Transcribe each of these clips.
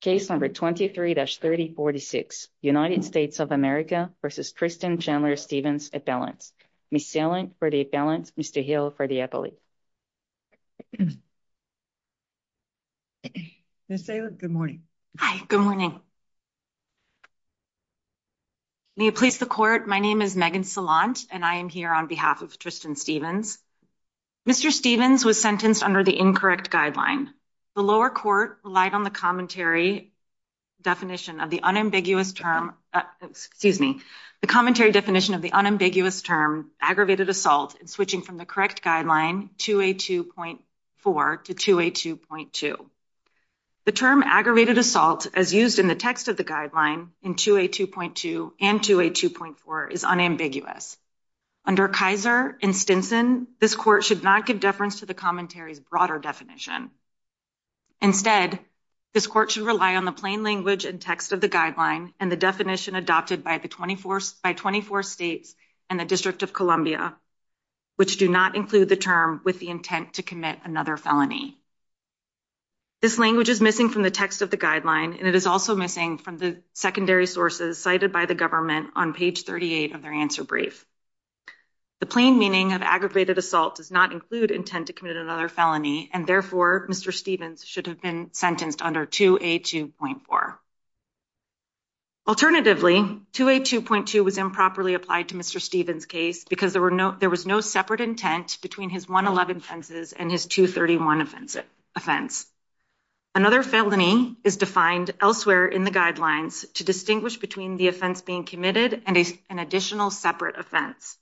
Case number 23-3046, United States of America v. Tristan Chandler Stevens, at balance. Ms. Salant, for the at balance. Mr. Hill, for the appellate. Ms. Salant, good morning. Hi, good morning. May it please the court. My name is Megan Salant and I am here on behalf of Tristan Stevens. Mr. Stevens was sentenced under the incorrect guideline. The lower court relied on the commentary definition of the unambiguous term, excuse me, the commentary definition of the unambiguous term aggravated assault and switching from the correct guideline 2A2.4 to 2A2.2. The term aggravated assault as used in the text of the guideline in 2A2.2 and 2A2.4 is unambiguous. Under Kaiser and Stinson, this court should not give deference to the commentary's broader definition. Instead, this court should rely on the plain language and text of the guideline and the definition adopted by 24 states and the District of Columbia, which do not include the term with the intent to commit another felony. This language is missing from the text of the guideline and it is also missing from the secondary sources cited by the government on page 38 of their answer brief. The plain meaning of aggravated assault does not include intent to commit another felony and therefore Mr. Stevens should have been sentenced under 2A2.4. Alternatively, 2A2.2 was improperly applied to Mr. Stevens' case because there was no separate intent between his 111 offenses and his 231 offense. Another felony is defined elsewhere in the guidelines to distinguish between the offense being committed and an additional separate offense.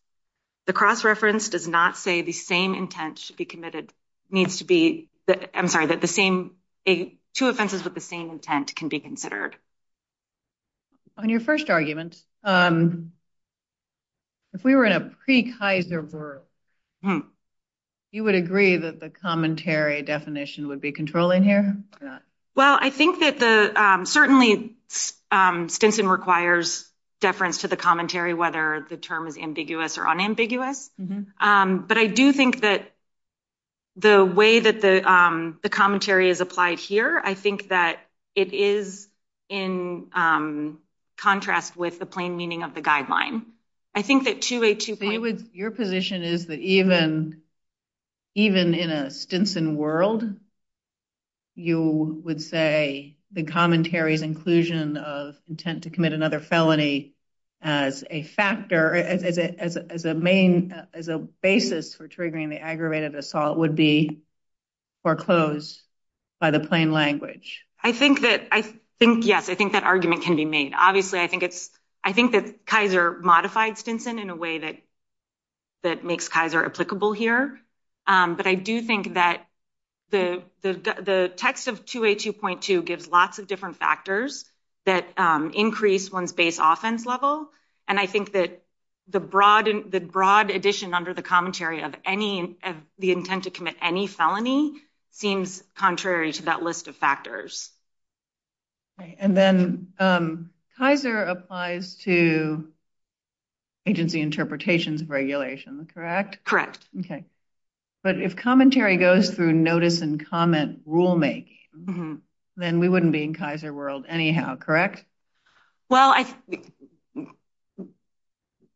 The cross-reference does not say the same intent should be committed. I'm sorry, that two offenses with the same intent can be considered. On your first argument, if we were in a pre-Kaiser world, you would agree that the commentary definition would be controlling here? Well, I think that certainly Stinson requires deference to the commentary, whether the term is ambiguous or unambiguous. But I do think that the way that the commentary is applied here, I think that it is in contrast with the plain meaning of the guideline. I think that 2A2.4... Your position is that even in a Stinson world, you would say the commentary's inclusion of intent to commit another felony as a basis for triggering the aggravated assault would be foreclosed by the plain language? I think that, yes, I think that argument can be made. Obviously, I think that Kaiser modified Stinson in a way that makes Kaiser applicable here. But I do think that the text of 2A2.2 gives lots of different factors that increase one's base offense level. And I think that the broad addition under the commentary of the intent to commit any felony seems contrary to that list of factors. And then Kaiser applies to agency interpretations of regulation, correct? Correct. Okay. But if commentary goes through notice and comment rulemaking, then we wouldn't be in Kaiser world anyhow, correct? Well,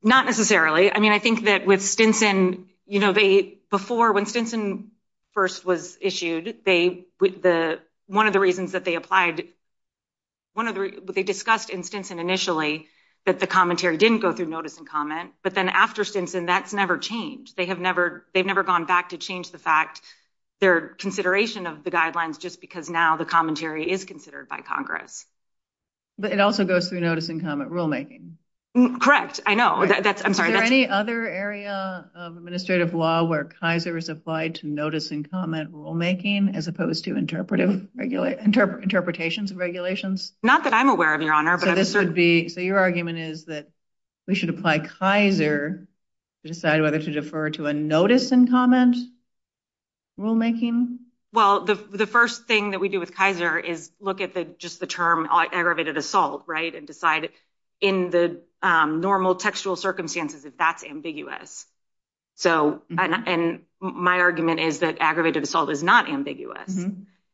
not necessarily. I mean, with Stinson, before when Stinson first was issued, one of the reasons that they applied, they discussed in Stinson initially that the commentary didn't go through notice and comment. But then after Stinson, that's never changed. They've never gone back to change the fact, their consideration of the guidelines just because now the commentary is considered by Congress. But it also goes through notice and comment rulemaking. Correct. I know. I'm sorry. Is there any other area of administrative law where Kaiser is applied to notice and comment rulemaking as opposed to interpretations of regulations? Not that I'm aware of, Your Honor. So your argument is that we should apply Kaiser to decide whether to defer to a notice and comment rulemaking? Well, the first thing that we do with Kaiser is look at just the term aggravated assault, and decide in the normal textual circumstances if that's ambiguous. So, and my argument is that aggravated assault is not ambiguous.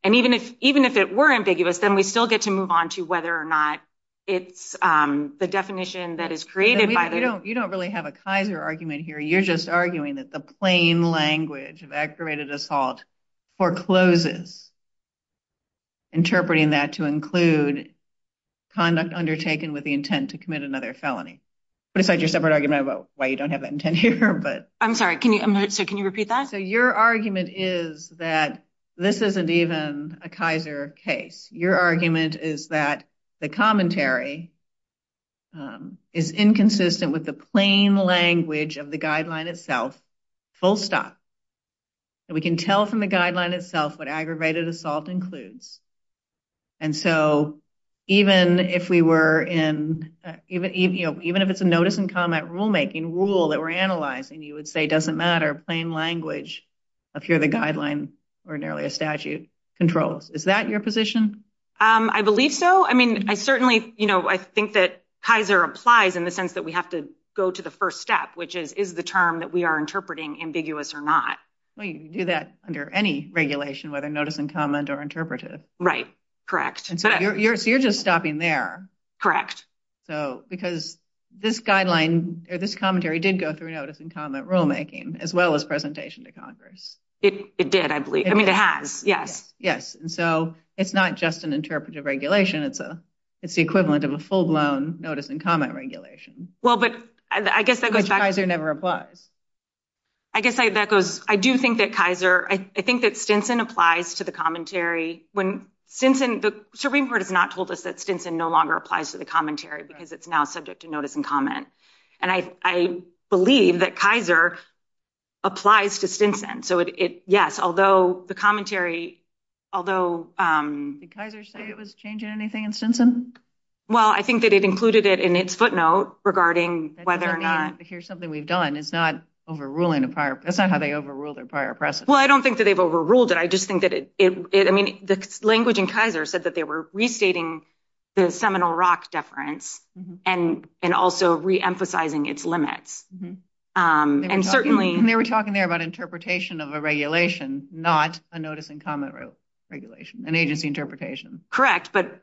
And even if it were ambiguous, then we still get to move on to whether or not it's the definition that is created by the- You don't really have a Kaiser argument here. You're just arguing that the plain language of aggravated assault forecloses interpreting that to include conduct undertaken with the intent to commit another felony. But aside your separate argument about why you don't have that intent here, but- I'm sorry. So can you repeat that? So your argument is that this isn't even a Kaiser case. Your argument is that the commentary is inconsistent with the plain language of the guideline itself, full stop. And we can tell from the guideline itself what aggravated assault includes. And so even if we were in- Even if it's a notice and comment rulemaking rule that we're analyzing, you would say, doesn't matter, plain language of here the guideline ordinarily a statute controls. Is that your position? I believe so. I mean, I certainly, you know, I think that Kaiser applies in the sense that we have to go to the first step, which is, is the term that we are interpreting ambiguous or not? Well, you can do that under any regulation, whether notice and comment or interpretive. Right. Correct. And so you're just stopping there. Correct. So because this guideline or this commentary did go through notice and comment rulemaking, as well as presentation to Congress. It did, I believe. I mean, it has. Yes. Yes. And so it's not just an interpretive regulation. It's the equivalent of a full blown notice and comment regulation. Which Kaiser never applies. I guess that goes, I do think that Kaiser, I think that Stinson applies to the commentary when Stinson, the Supreme Court has not told us that Stinson no longer applies to the commentary because it's now subject to notice and comment. And I believe that Kaiser applies to Stinson. So yes, although the commentary, although. Did Kaiser say it was changing anything in Stinson? Well, I think that it included it in its footnote regarding whether or not. Here's something we've done. It's not overruling a prior, that's not how they overruled a prior precedent. Well, I don't think that they've overruled it. I just think that it, I mean, the language in Kaiser said that they were restating the Seminole Rock deference and also reemphasizing its limits. And certainly. They were talking there about interpretation of a regulation, not a notice and comment regulation, an agency interpretation. Correct. But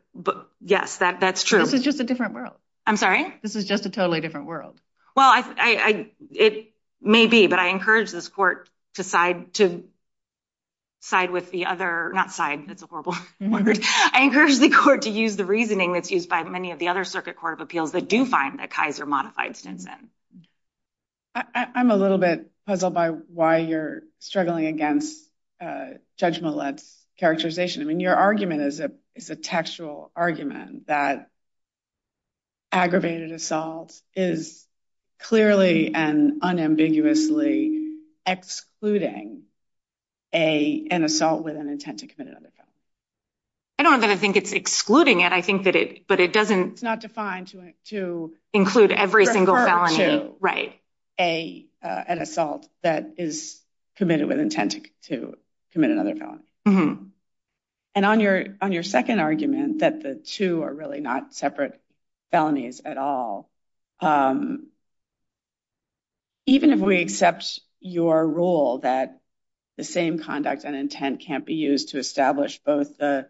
yes, that's true. This is just a different world. I'm sorry? This is just a totally different world. Well, it may be, but I encourage this court to side with the other, not side, that's a horrible word. I encourage the court to use the reasoning that's used by many of the other circuit court of appeals that do find that Kaiser modified Stinson. I'm a little bit puzzled by why you're struggling against Judge Millett's characterization. I mean, your argument is a textual argument that aggravated assault is clearly and unambiguously excluding an assault with an intent to commit another felony. I don't know that I think it's excluding it. I think that it, but it doesn't. It's not defined to include every single felony, right? A, an assault that is committed with intent to commit another felony. And on your, on your second argument that the two are really not separate felonies at all. Even if we accept your rule that the same conduct and intent can't be used to establish both the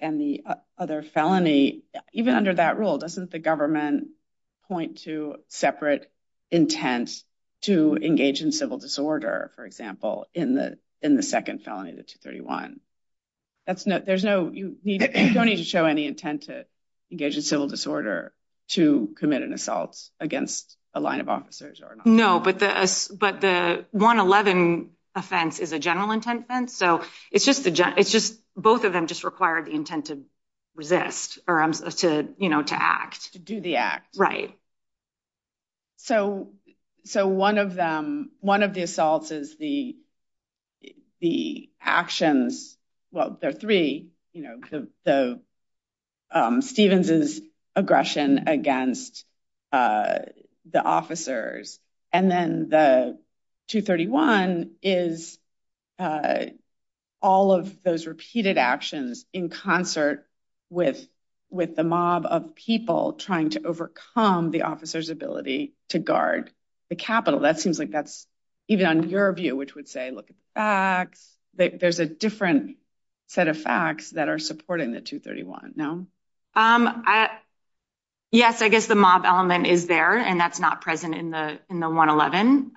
and the other felony, even under that rule, doesn't the government point to separate intent to engage in civil disorder, for example, in the, in the second felony, the 231. That's no, there's no, you don't need to show any intent to engage in civil disorder to commit an assault against a line of officers. No, but the, but the 111 offense is a general the intent to resist or to, you know, to act, to do the act. Right. So, so one of them, one of the assaults is the, the actions. Well, there are three, you know, the Stevens's aggression against the officers. And then the 231 is a, all of those repeated actions in concert with, with the mob of people trying to overcome the officer's ability to guard the Capitol. That seems like that's even on your view, which would say, look at the facts that there's a different set of facts that are supporting the 231. No, I, yes, I guess the mob element is there and that's not present in the, in the 111.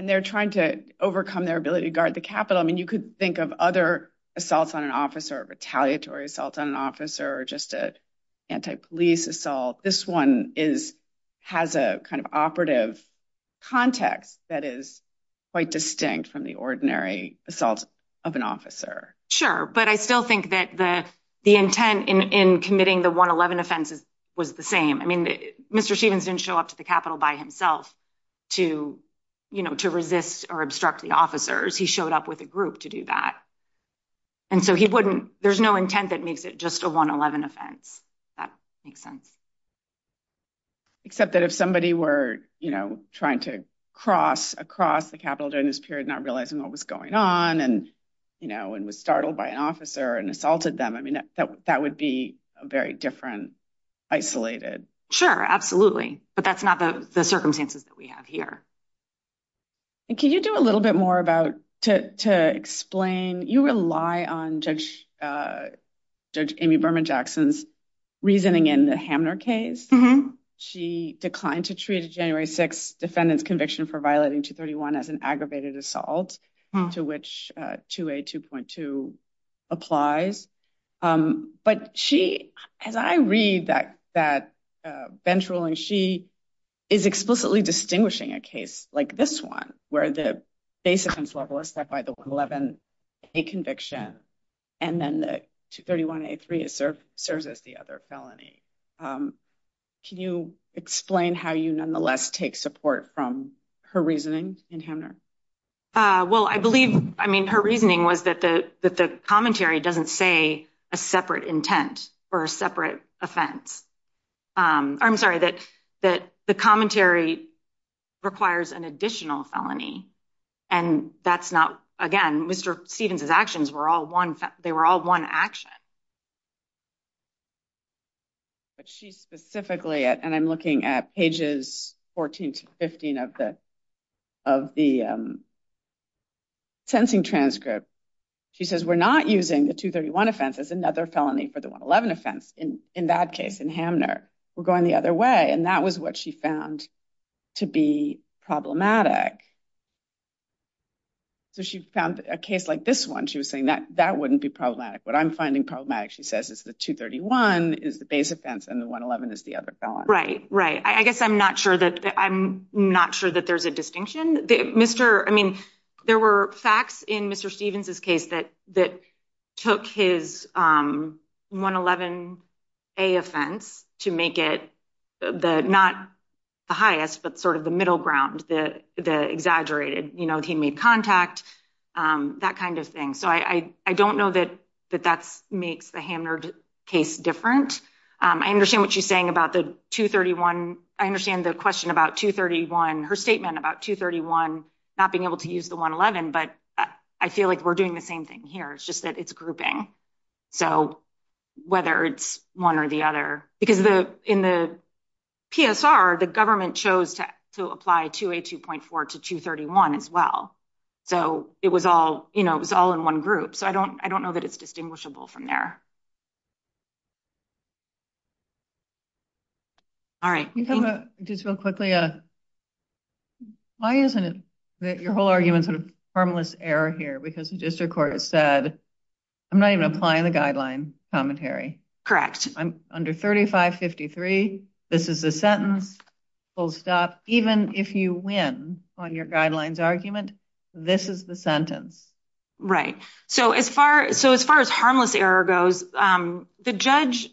And they're trying to overcome their ability to guard the Capitol. I mean, you could think of other assaults on an officer, retaliatory assault on an officer, or just an anti-police assault. This one is, has a kind of operative context that is quite distinct from the ordinary assault of an officer. Sure. But I still think that the, the intent in, in committing the 111 offenses was the same. I mean, Mr. Stevens didn't show up to the Capitol by himself to, you know, to resist or obstruct the officers. He showed up with a group to do that. And so he wouldn't, there's no intent that makes it just a 111 offense. That makes sense. Except that if somebody were, you know, trying to cross across the Capitol during this period, not realizing what was going on and, you know, and was startled by an officer and assaulted them. That would be a very different, isolated. Sure, absolutely. But that's not the circumstances that we have here. And can you do a little bit more about, to explain, you rely on Judge Amy Berman Jackson's reasoning in the Hamner case. She declined to treat a January 6th defendant's conviction for violating 231 as an aggravated assault to which 282.2 applies. But she, as I read that bench ruling, she is explicitly distinguishing a case like this one, where the base offense level is set by the 111A conviction and then the 231A3 serves as the other felony. Can you explain how you nonetheless take support from her reasoning in Hamner? Well, I believe, I mean, her reasoning was that the, that the commentary doesn't say separate intent or a separate offense. I'm sorry, that the commentary requires an additional felony and that's not, again, Mr. Stevens's actions were all one, they were all one action. But she specifically, and I'm looking at pages 14 to 15 of the, of the transcript, she says, we're not using the 231 offense as another felony for the 111 offense. In that case, in Hamner, we're going the other way. And that was what she found to be problematic. So she found a case like this one, she was saying that, that wouldn't be problematic. What I'm finding problematic, she says, is the 231 is the base offense and the 111 is the other felony. Right, right. I guess I'm not sure that, I'm not sure that there's a distinction. Mr., I mean, there were facts in Mr. Stevens's case that, that took his 111A offense to make it the, not the highest, but sort of the middle ground, the, the exaggerated, you know, he made contact, that kind of thing. So I, I don't know that, that that's makes the Hamner case different. I understand what she's saying about the 231. I understand the question about 231, her statement about 231, not being able to use the 111, but I feel like we're doing the same thing here. It's just that it's grouping. So whether it's one or the other, because the, in the PSR, the government chose to, to apply 282.4 to 231 as well. So it was all, you know, it was all in one group. So I don't, I don't know that it's distinguishable from there. All right. We have a, just real quickly, why isn't it that your whole argument sort of harmless error here, because the district court said, I'm not even applying the guideline commentary. Correct. I'm under 3553. This is a sentence, full stop. Even if you win on your guidelines argument, this is the sentence. Right. So as far, so as far as harmless error goes, the judge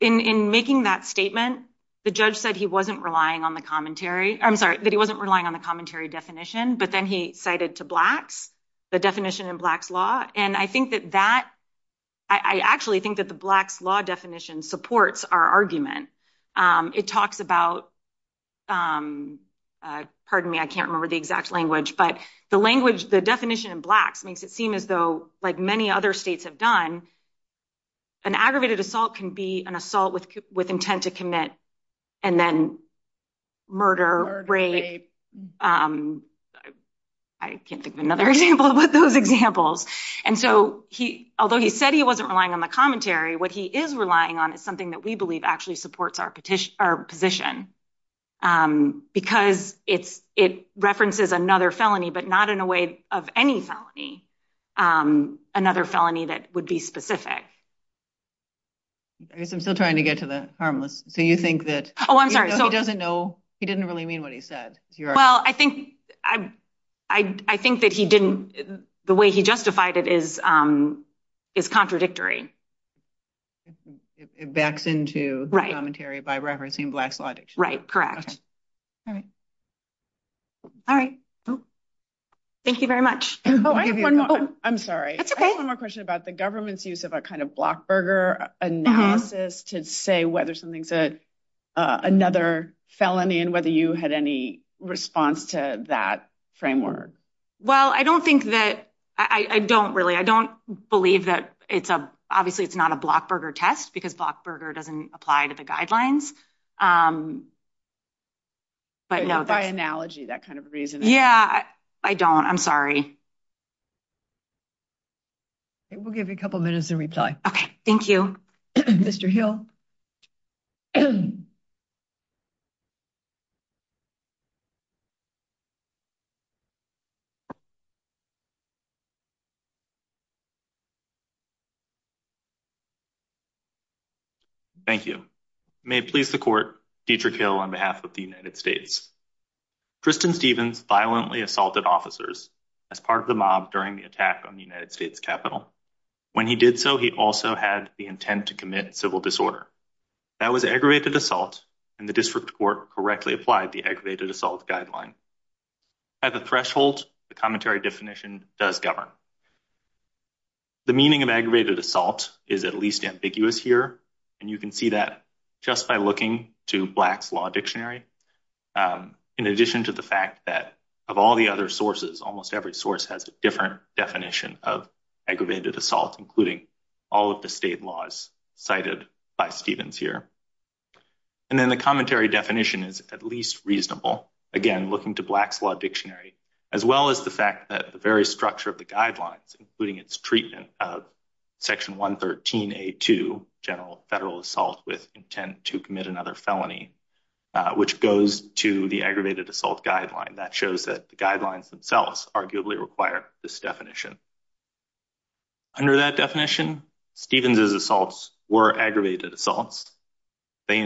in, in making that statement, the judge said he wasn't relying on the commentary. I'm sorry that he wasn't relying on the commentary definition, but then he cited to Blacks, the definition in Blacks law. And I think that that, I actually think that the Blacks law definition supports our argument. It talks about pardon me. I can't remember the exact language, but the language, the definition in Blacks makes it seem as though like many other States have done an aggravated assault can be an and then murder rape. I can't think of another example of what those examples. And so he, although he said he wasn't relying on the commentary, what he is relying on is something that we believe actually supports our petition, our position. Because it's, it references another felony, but not in a way of any felony. Another felony that would be specific. I guess I'm still trying to get to the harmless. So you think that, oh, I'm sorry. He doesn't know. He didn't really mean what he said. Well, I think, I, I, I think that he didn't, the way he justified it is, is contradictory. It backs into commentary by referencing Blacks law. Right. Correct. All right. All right. Thank you very much. Oh, I have one more. I'm sorry. I have one more question about the government's use of a kind of block burger analysis to say whether something's a, another felony and whether you had any response to that framework. Well, I don't think that I don't really, I don't believe that it's a, obviously it's not a block burger test because block burger doesn't apply to the guidelines. But by analogy, that kind of reason. Yeah, I don't, I'm sorry. I will give you a couple of minutes to reply. Okay. Thank you, Mr. Hill. Thank you. May it please the court, Dietrich Hill on behalf of the United States. Tristan Stevens violently assaulted officers as part of the mob during the attack on the United States Capitol. When he did so, he also had the intent to commit civil disorder. That was aggravated assault and the district court correctly applied the aggravated assault guideline. At the threshold, the commentary definition does govern. The meaning of aggravated assault is at least ambiguous here. And you can see that just by looking to Blacks law dictionary. In addition to the fact that of all the other sources, almost every source has a different definition of aggravated assault, including all of the state laws cited by Stevens here. And then the commentary definition is at least reasonable again, looking to Blacks law dictionary, as well as the fact that the very structure of the guidelines, including its treatment of section 113A2, general federal assault with intent to commit another felony, which goes to the aggravated assault guideline. That shows that the guidelines themselves arguably require this definition. Under that definition, Stevens' assaults were aggravated assaults. They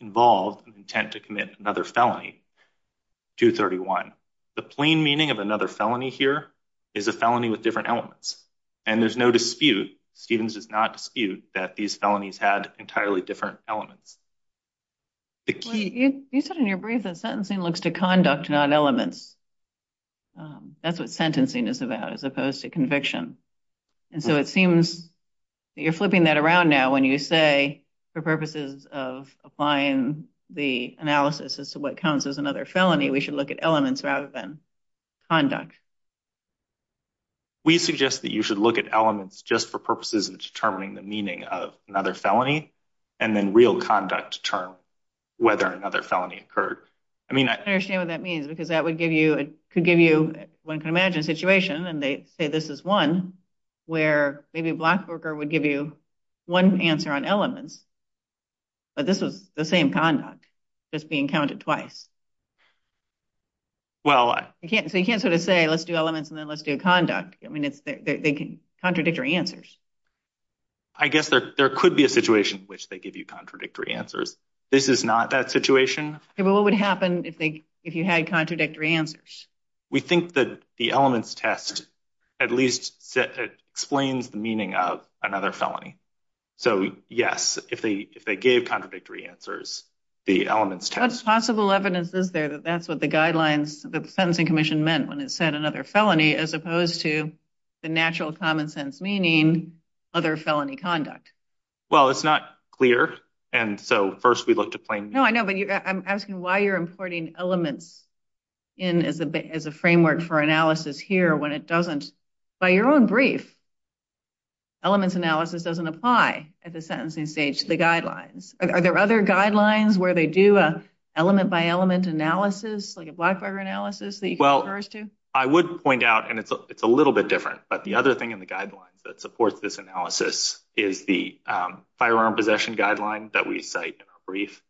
involved an intent to commit another felony, 231. The plain meaning of another felony here is a felony with different elements. And there's no dispute, Stevens does not dispute that these felonies had entirely different elements. You said in your brief that sentencing looks to conduct, not elements. That's what sentencing is about, as opposed to conviction. And so it seems you're flipping that around now when you say for purposes of applying the analysis as to what counts as another felony, we should look at elements rather than conduct. We suggest that you should look at elements just for purposes of determining the meaning of another felony, and then real conduct to determine whether another felony occurred. I mean, I understand what that means, because that would give you, it could give you, one can imagine a situation, and they say this is one, where maybe a Black worker would give you one answer on elements. But this was the same conduct, just being counted twice. Well, I can't, so you can't sort of say let's do elements and then let's do conduct. I mean, it's, they can, contradictory answers. I guess there could be a situation in which they give you contradictory answers. This is not that situation. Okay, but what would happen if they, if you had contradictory answers? We think that the elements test at least explains the meaning of another evidence. Is there that that's what the guidelines, the Sentencing Commission meant when it said another felony, as opposed to the natural common sense meaning other felony conduct? Well, it's not clear, and so first we look to plain. No, I know, but I'm asking why you're importing elements in as a framework for analysis here when it doesn't, by your own brief, elements analysis doesn't apply at the sentencing stage to the guidelines. Are there other guidelines where they do a element-by-element analysis, like a Blackbarger analysis that you can refer us to? Well, I would point out, and it's a little bit different, but the other thing in the guidelines that supports this analysis is the firearm possession guideline that we cite in our brief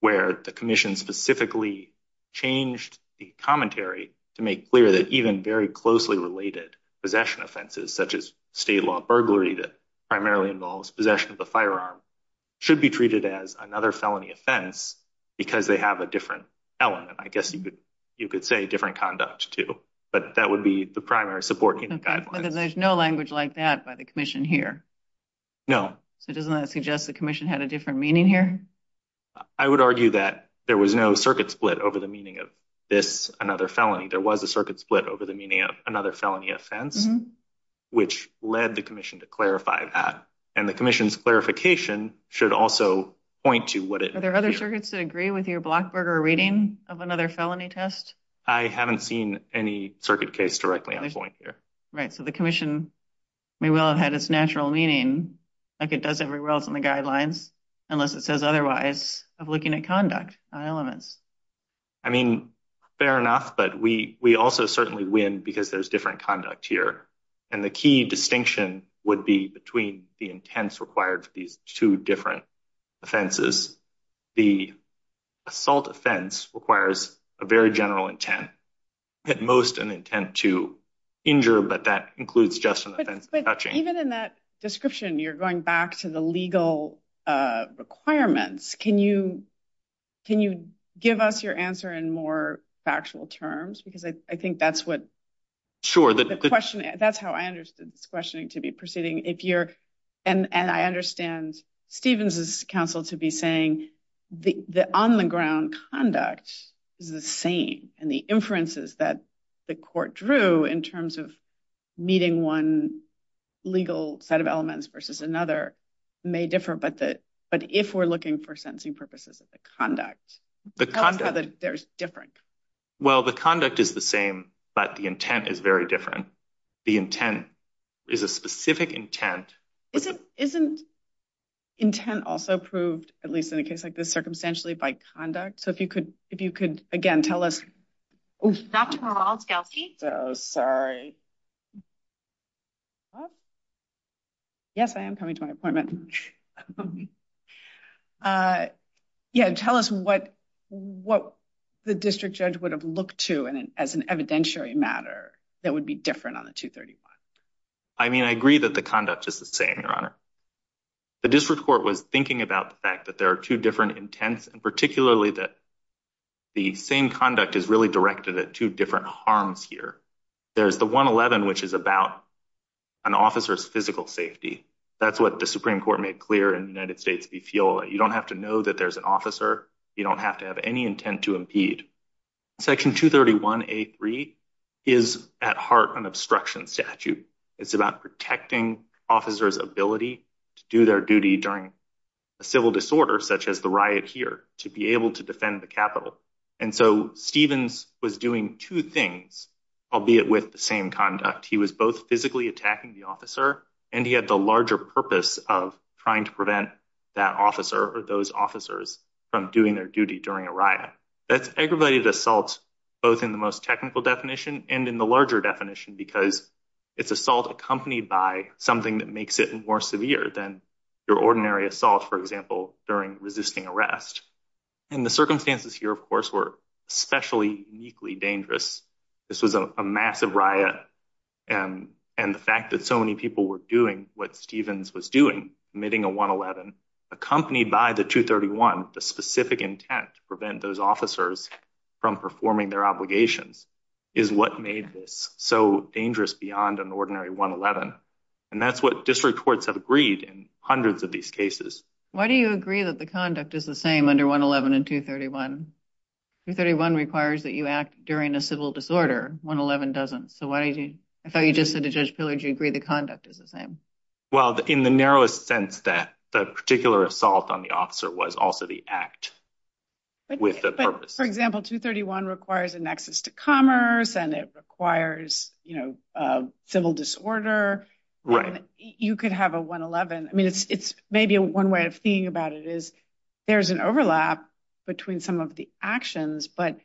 where the commission specifically changed the commentary to make clear that even very closely related possession offenses, such as state law burglary that primarily involves possession of the firearm, should be treated as another felony offense because they have a different element. I guess you could you could say different conduct too, but that would be the primary support. Okay, but then there's no language like that by the commission here. No. So doesn't that suggest the commission had a different meaning here? I would argue that there was no circuit split over the meaning of this another felony. There was a circuit split over the meaning of another felony offense, which led the commission to clarify that, and the commission's clarification should also point to what it... Are there other circuits that agree with your Blackbarger reading of another felony test? I haven't seen any circuit case directly on point here. Right, so the commission may well have had its natural meaning, like it does everywhere else in the guidelines, unless it says otherwise, of looking at conduct on elements. I mean, fair enough, but we also certainly win because there's different conduct here, and the key distinction would be between the intents required for these two different offenses. The assault offense requires a very general intent, at most an intent to injure, but that includes just an offense of touching. But even in that description, you're going back to the legal requirements. Can you give us your answer in more factual terms? Because I think that's what... Sure. That's how I understood this questioning to be proceeding. And I understand Stevens's counsel to be saying the on-the-ground conduct is the same, and the inferences that the court drew in terms of meeting one legal set of elements versus another may differ, but if we're looking for sentencing purposes at the conduct, tell us how they're different. Well, the conduct is the same, but the intent is very different. The intent is a specific intent. Isn't intent also proved, at least in a case like this, circumstantially by conduct? So if you could, again, tell us. Dr. Rawls-Geltsy? Oh, sorry. Yes, I am coming to my appointment. Yeah, tell us what the district judge would have looked to as an evidentiary matter that would be different on the 231. I mean, I agree that the conduct is the same, Your Honor. The district court was thinking about the fact that there are two intents, and particularly that the same conduct is really directed at two different harms here. There's the 111, which is about an officer's physical safety. That's what the Supreme Court made clear in the United States. We feel that you don't have to know that there's an officer. You don't have to have any intent to impede. Section 231A3 is at heart an obstruction statute. It's about protecting officers' ability to do their duty during a civil disorder, such as the riot here, to be able to defend the Capitol. And so Stevens was doing two things, albeit with the same conduct. He was both physically attacking the officer, and he had the larger purpose of trying to prevent that officer or those officers from doing their duty during a riot. That's aggravated assault, both in the most technical definition and in the larger definition, because it's assault accompanied by something that makes it more severe than your ordinary assault, for example, during resisting arrest. And the circumstances here, of course, were especially uniquely dangerous. This was a massive riot, and the fact that so many people were doing what Stevens was doing, committing a 111, accompanied by the 231, the specific intent to prevent those officers from performing their obligations, is what made this so dangerous beyond an ordinary 111. And that's what district courts have agreed in hundreds of these cases. Why do you agree that the conduct is the same under 111 and 231? 231 requires that you act during a civil disorder. 111 doesn't. So why do you, I thought you just said to Judge Pillard, you agree the conduct is the same? Well, in the narrowest sense that the particular assault on the officer was also the act with the purpose. For example, 231 requires a nexus to commerce, and it requires a civil disorder. Right. You could have a 111. I mean, it's maybe one way of thinking about it is there's an overlap between some of the actions, but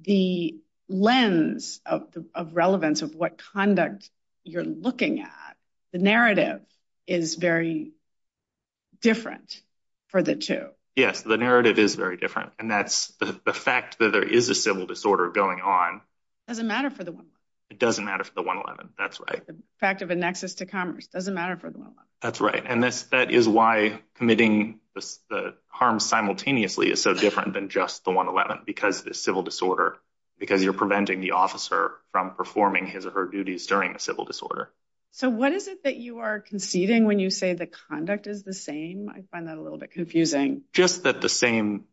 the lens of relevance of what conduct you're looking at, the narrative is very different for the two. Yes, the narrative is very different. And that's the fact that there is a civil disorder going on. It doesn't matter for the 111. It doesn't matter for the 111. That's right. The fact of a nexus to commerce doesn't matter for the 111. That's right. And that is why committing the harm simultaneously is so different than just the 111, because the civil disorder, because you're preventing the officer from performing his or her duties during a civil disorder. So what is it that you are conceding when you say the conduct is the same? I find that a little bit confusing. Just that the same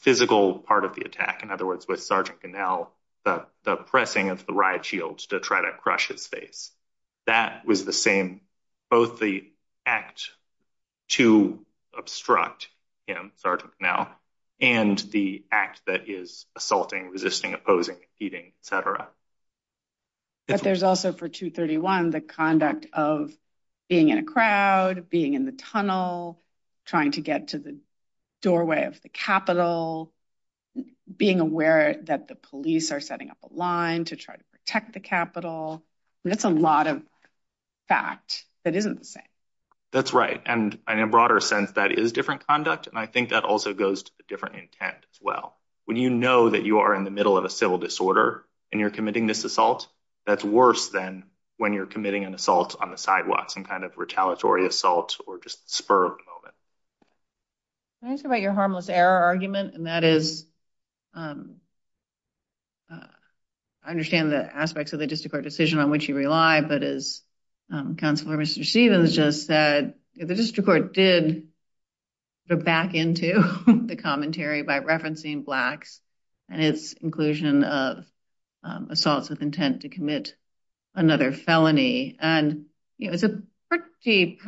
physical part of the attack, in other words, with Sergeant Ganell, the pressing of the riot shields to try to crush his face, that was the same, both the act to obstruct him, Sergeant Ganell, and the act that is assaulting, resisting, opposing, defeating, et cetera. But there's also for 231, the conduct of being in a crowd, being in the tunnel, trying to get to the doorway of the Capitol, being aware that the police are setting up a line to try to protect the Capitol. That's a lot of fact that isn't the same. That's right. And in a broader sense, that is different conduct. And I think that also goes to a different intent as well. When you know that you are in the middle of a civil disorder and you're committing this assault, that's worse than when you're committing an assault on the sidewalk, some kind of Can I ask about your harmless error argument? And that is, I understand the aspects of the district court decision on which you rely, but as Counselor Mr. Stevens just said, the district court did go back into the commentary by referencing blacks and its inclusion of assaults with intent to commit another felony. And it's a pretty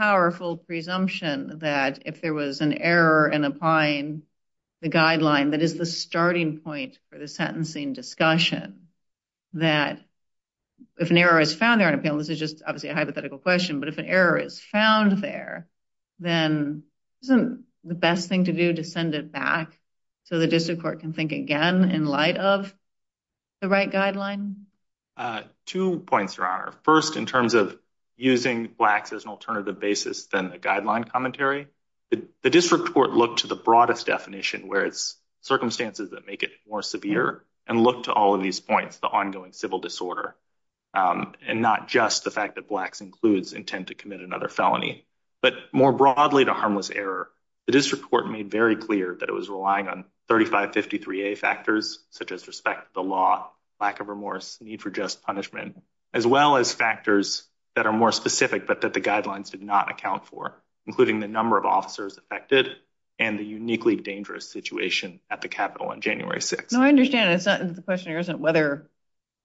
presumption that if there was an error in applying the guideline, that is the starting point for the sentencing discussion. That if an error is found there on a panel, this is just obviously a hypothetical question, but if an error is found there, then isn't the best thing to do to send it back so the district court can think again in light of the right guideline? Two points, Your commentary, the district court looked to the broadest definition where it's circumstances that make it more severe and look to all of these points, the ongoing civil disorder, and not just the fact that blacks includes intent to commit another felony, but more broadly to harmless error. The district court made very clear that it was relying on 3553A factors, such as respect to the law, lack of remorse, need for just punishment, as well as factors that are more specific, but that the guidelines did not account for, including the number of officers affected and the uniquely dangerous situation at the Capitol on January 6th. No, I understand. It's not the question here isn't whether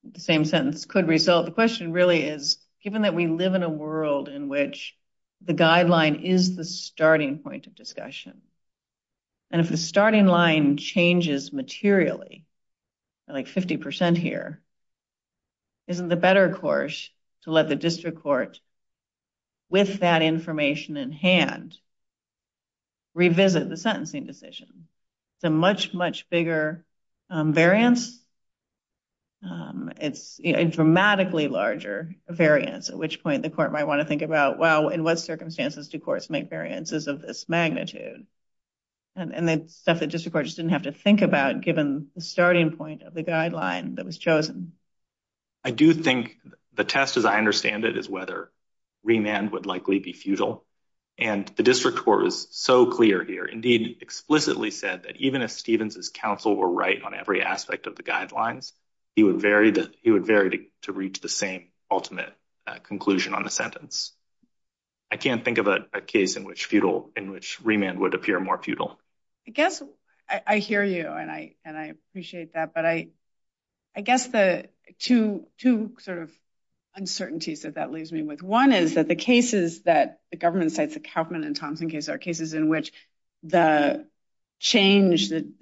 the same sentence could result. The question really is, given that we live in a world in which the guideline is the starting point of discussion, and if the starting line changes materially, like 50% here, isn't the better course to let the district court, with that information in hand, revisit the sentencing decision. It's a much, much bigger variance. It's a dramatically larger variance, at which point the court might want to think about, well, in what circumstances do courts make variances of this magnitude? And the stuff that district courts didn't have to think about given the starting point of the guideline that was chosen. I do think the test, as I understand it, is whether remand would likely be futile. And the district court was so clear here, indeed explicitly said that even if Stevens's counsel were right on every aspect of the guidelines, he would vary to reach the same ultimate conclusion on the sentence. I can't think of a case in which remand would appear more futile. I guess I hear you, and I appreciate that, but I guess the two sort of uncertainties that that leaves me with. One is that the cases that the government cites, the Kaufman and Thompson case, are cases in which the change, the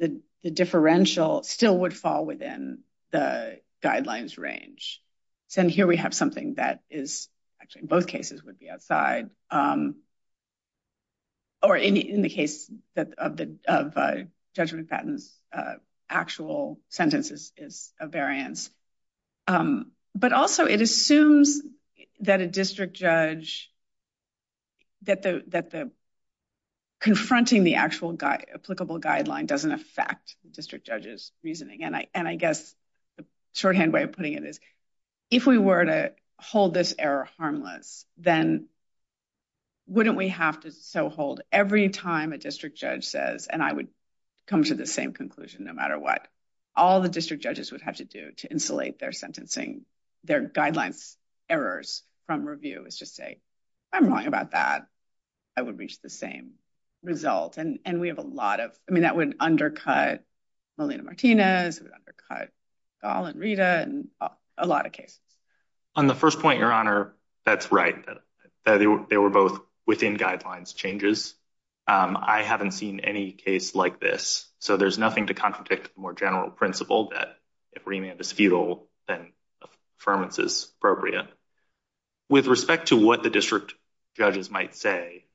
differential, still would fall within the guidelines range. Here we have something that is actually in both cases would be outside, or in the case of Judge McFadden's actual sentences is a variance. But also it assumes that a district judge, that confronting the actual applicable guideline doesn't affect the district judge's reasoning. And I guess the shorthand way of putting it is, if we were to hold this error harmless, then wouldn't we have to so hold every time a district judge says, and I would come to the same conclusion no matter what, all the district judges would have to do to insulate their sentencing, their guidelines errors from review is just say, I'm wrong about that. I would reach the same result. And we have a lot of, I mean, it would undercut Melina Martinez, it would undercut Gall and Rita and a lot of cases. On the first point, Your Honor, that's right. They were both within guidelines changes. I haven't seen any case like this. So there's nothing to contradict the more general principle that if remand is futile, then affirmance is appropriate. With respect to what the district judges might say,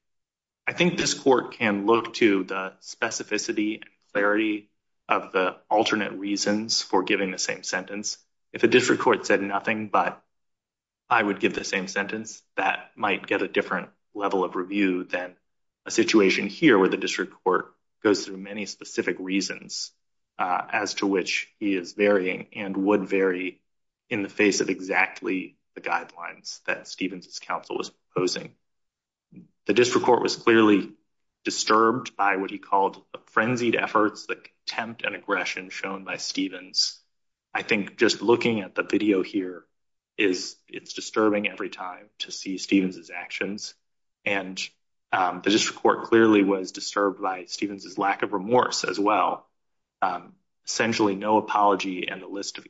I think this court can look to the specificity and clarity of the alternate reasons for giving the same sentence. If a district court said nothing, but I would give the same sentence, that might get a different level of review than a situation here where the district court goes through many specific reasons as to which he is varying and would vary in the guidelines that Stevens' counsel was proposing. The district court was clearly disturbed by what he called a frenzied efforts, the contempt and aggression shown by Stevens. I think just looking at the video here, it's disturbing every time to see Stevens' actions. And the district court clearly was disturbed by Stevens' lack of remorse as well. Essentially, no apology and a list of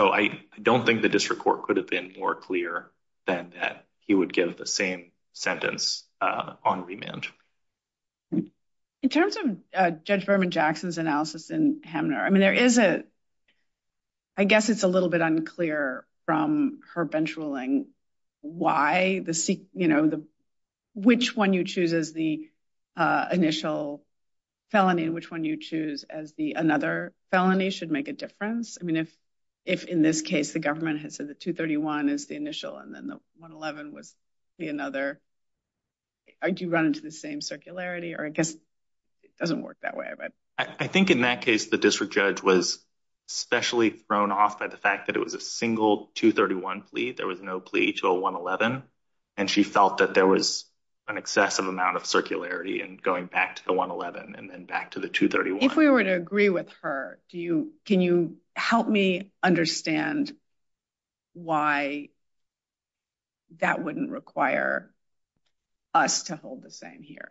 I don't think the district court could have been more clear than that he would give the same sentence on remand. In terms of Judge Berman Jackson's analysis in Hamner, I guess it's a little bit unclear from her bench ruling, which one you choose as the initial felony and which you choose as the another felony should make a difference. I mean, if in this case, the government has said that 231 is the initial and then the 111 was the another, do you run into the same circularity? Or I guess it doesn't work that way. I think in that case, the district judge was especially thrown off by the fact that it was a single 231 plea. There was no plea to a 111. And she felt that there was an excessive amount of circularity and going back to the 111 and then the 231. If we were to agree with her, can you help me understand why that wouldn't require us to hold the same here?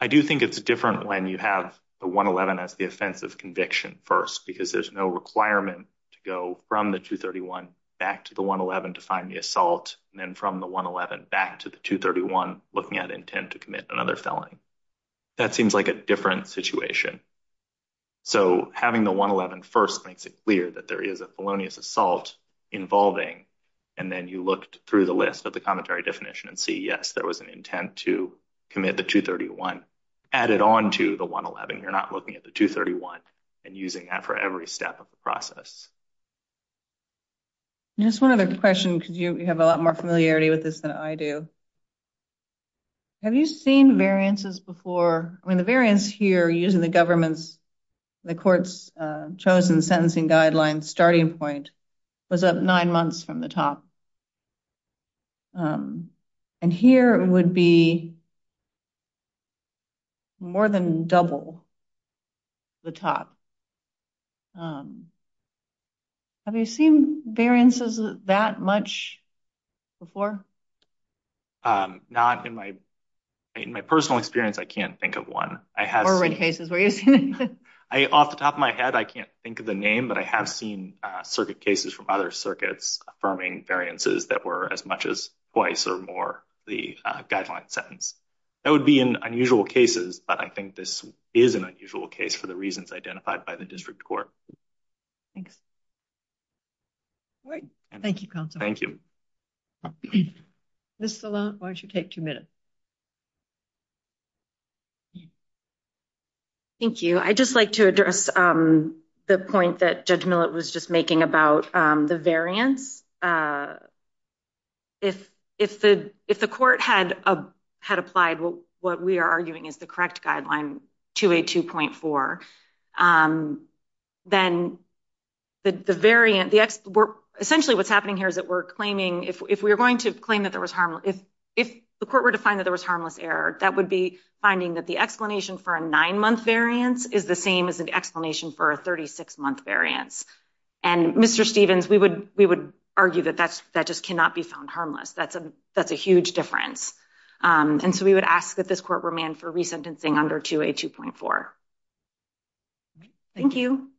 I do think it's different when you have the 111 as the offensive conviction first, because there's no requirement to go from the 231 back to the 111 to find the assault and then from the 111 back to the 231 looking at intent to commit another felony. That seems like a different situation. So having the 111 first makes it clear that there is a felonious assault involving, and then you look through the list of the commentary definition and see, yes, there was an intent to commit the 231 added on to the 111. You're not looking at the 231 and using that for every step of the process. Just one other question, because you before, I mean, the variance here using the government's, the court's chosen sentencing guidelines starting point was up nine months from the top. And here would be more than double the top. Have you seen variances that much before? Um, not in my, in my personal experience, I can't think of one. I have already cases where I off the top of my head, I can't think of the name, but I have seen circuit cases from other circuits affirming variances that were as much as twice or more the guideline sentence. That would be an unusual cases, but I think this is an unusual case for the reasons identified by the district court. Thanks. All right. Thank you. Council. Thank you. This is a lot. Why don't you take two minutes? Thank you. I just like to address, um, the point that judge Millett was just making about, um, the variance. Uh, if, if the, if the court had, uh, had applied, what we are arguing is the correct guideline to a 2.4. Um, then the, the variant, the ex essentially what's happening here is that we're claiming if, if we are going to claim that there was harm, if, if the court were to find that there was harmless error, that would be finding that the explanation for a nine month variance is the same as an explanation for a 36 month variance. And Mr. Stevens, we would, we would argue that that's, that just cannot be found harmless. That's a, that's a huge difference. Um, and so we would ask that this court remand for resentencing under 2a 2.4. Thank you.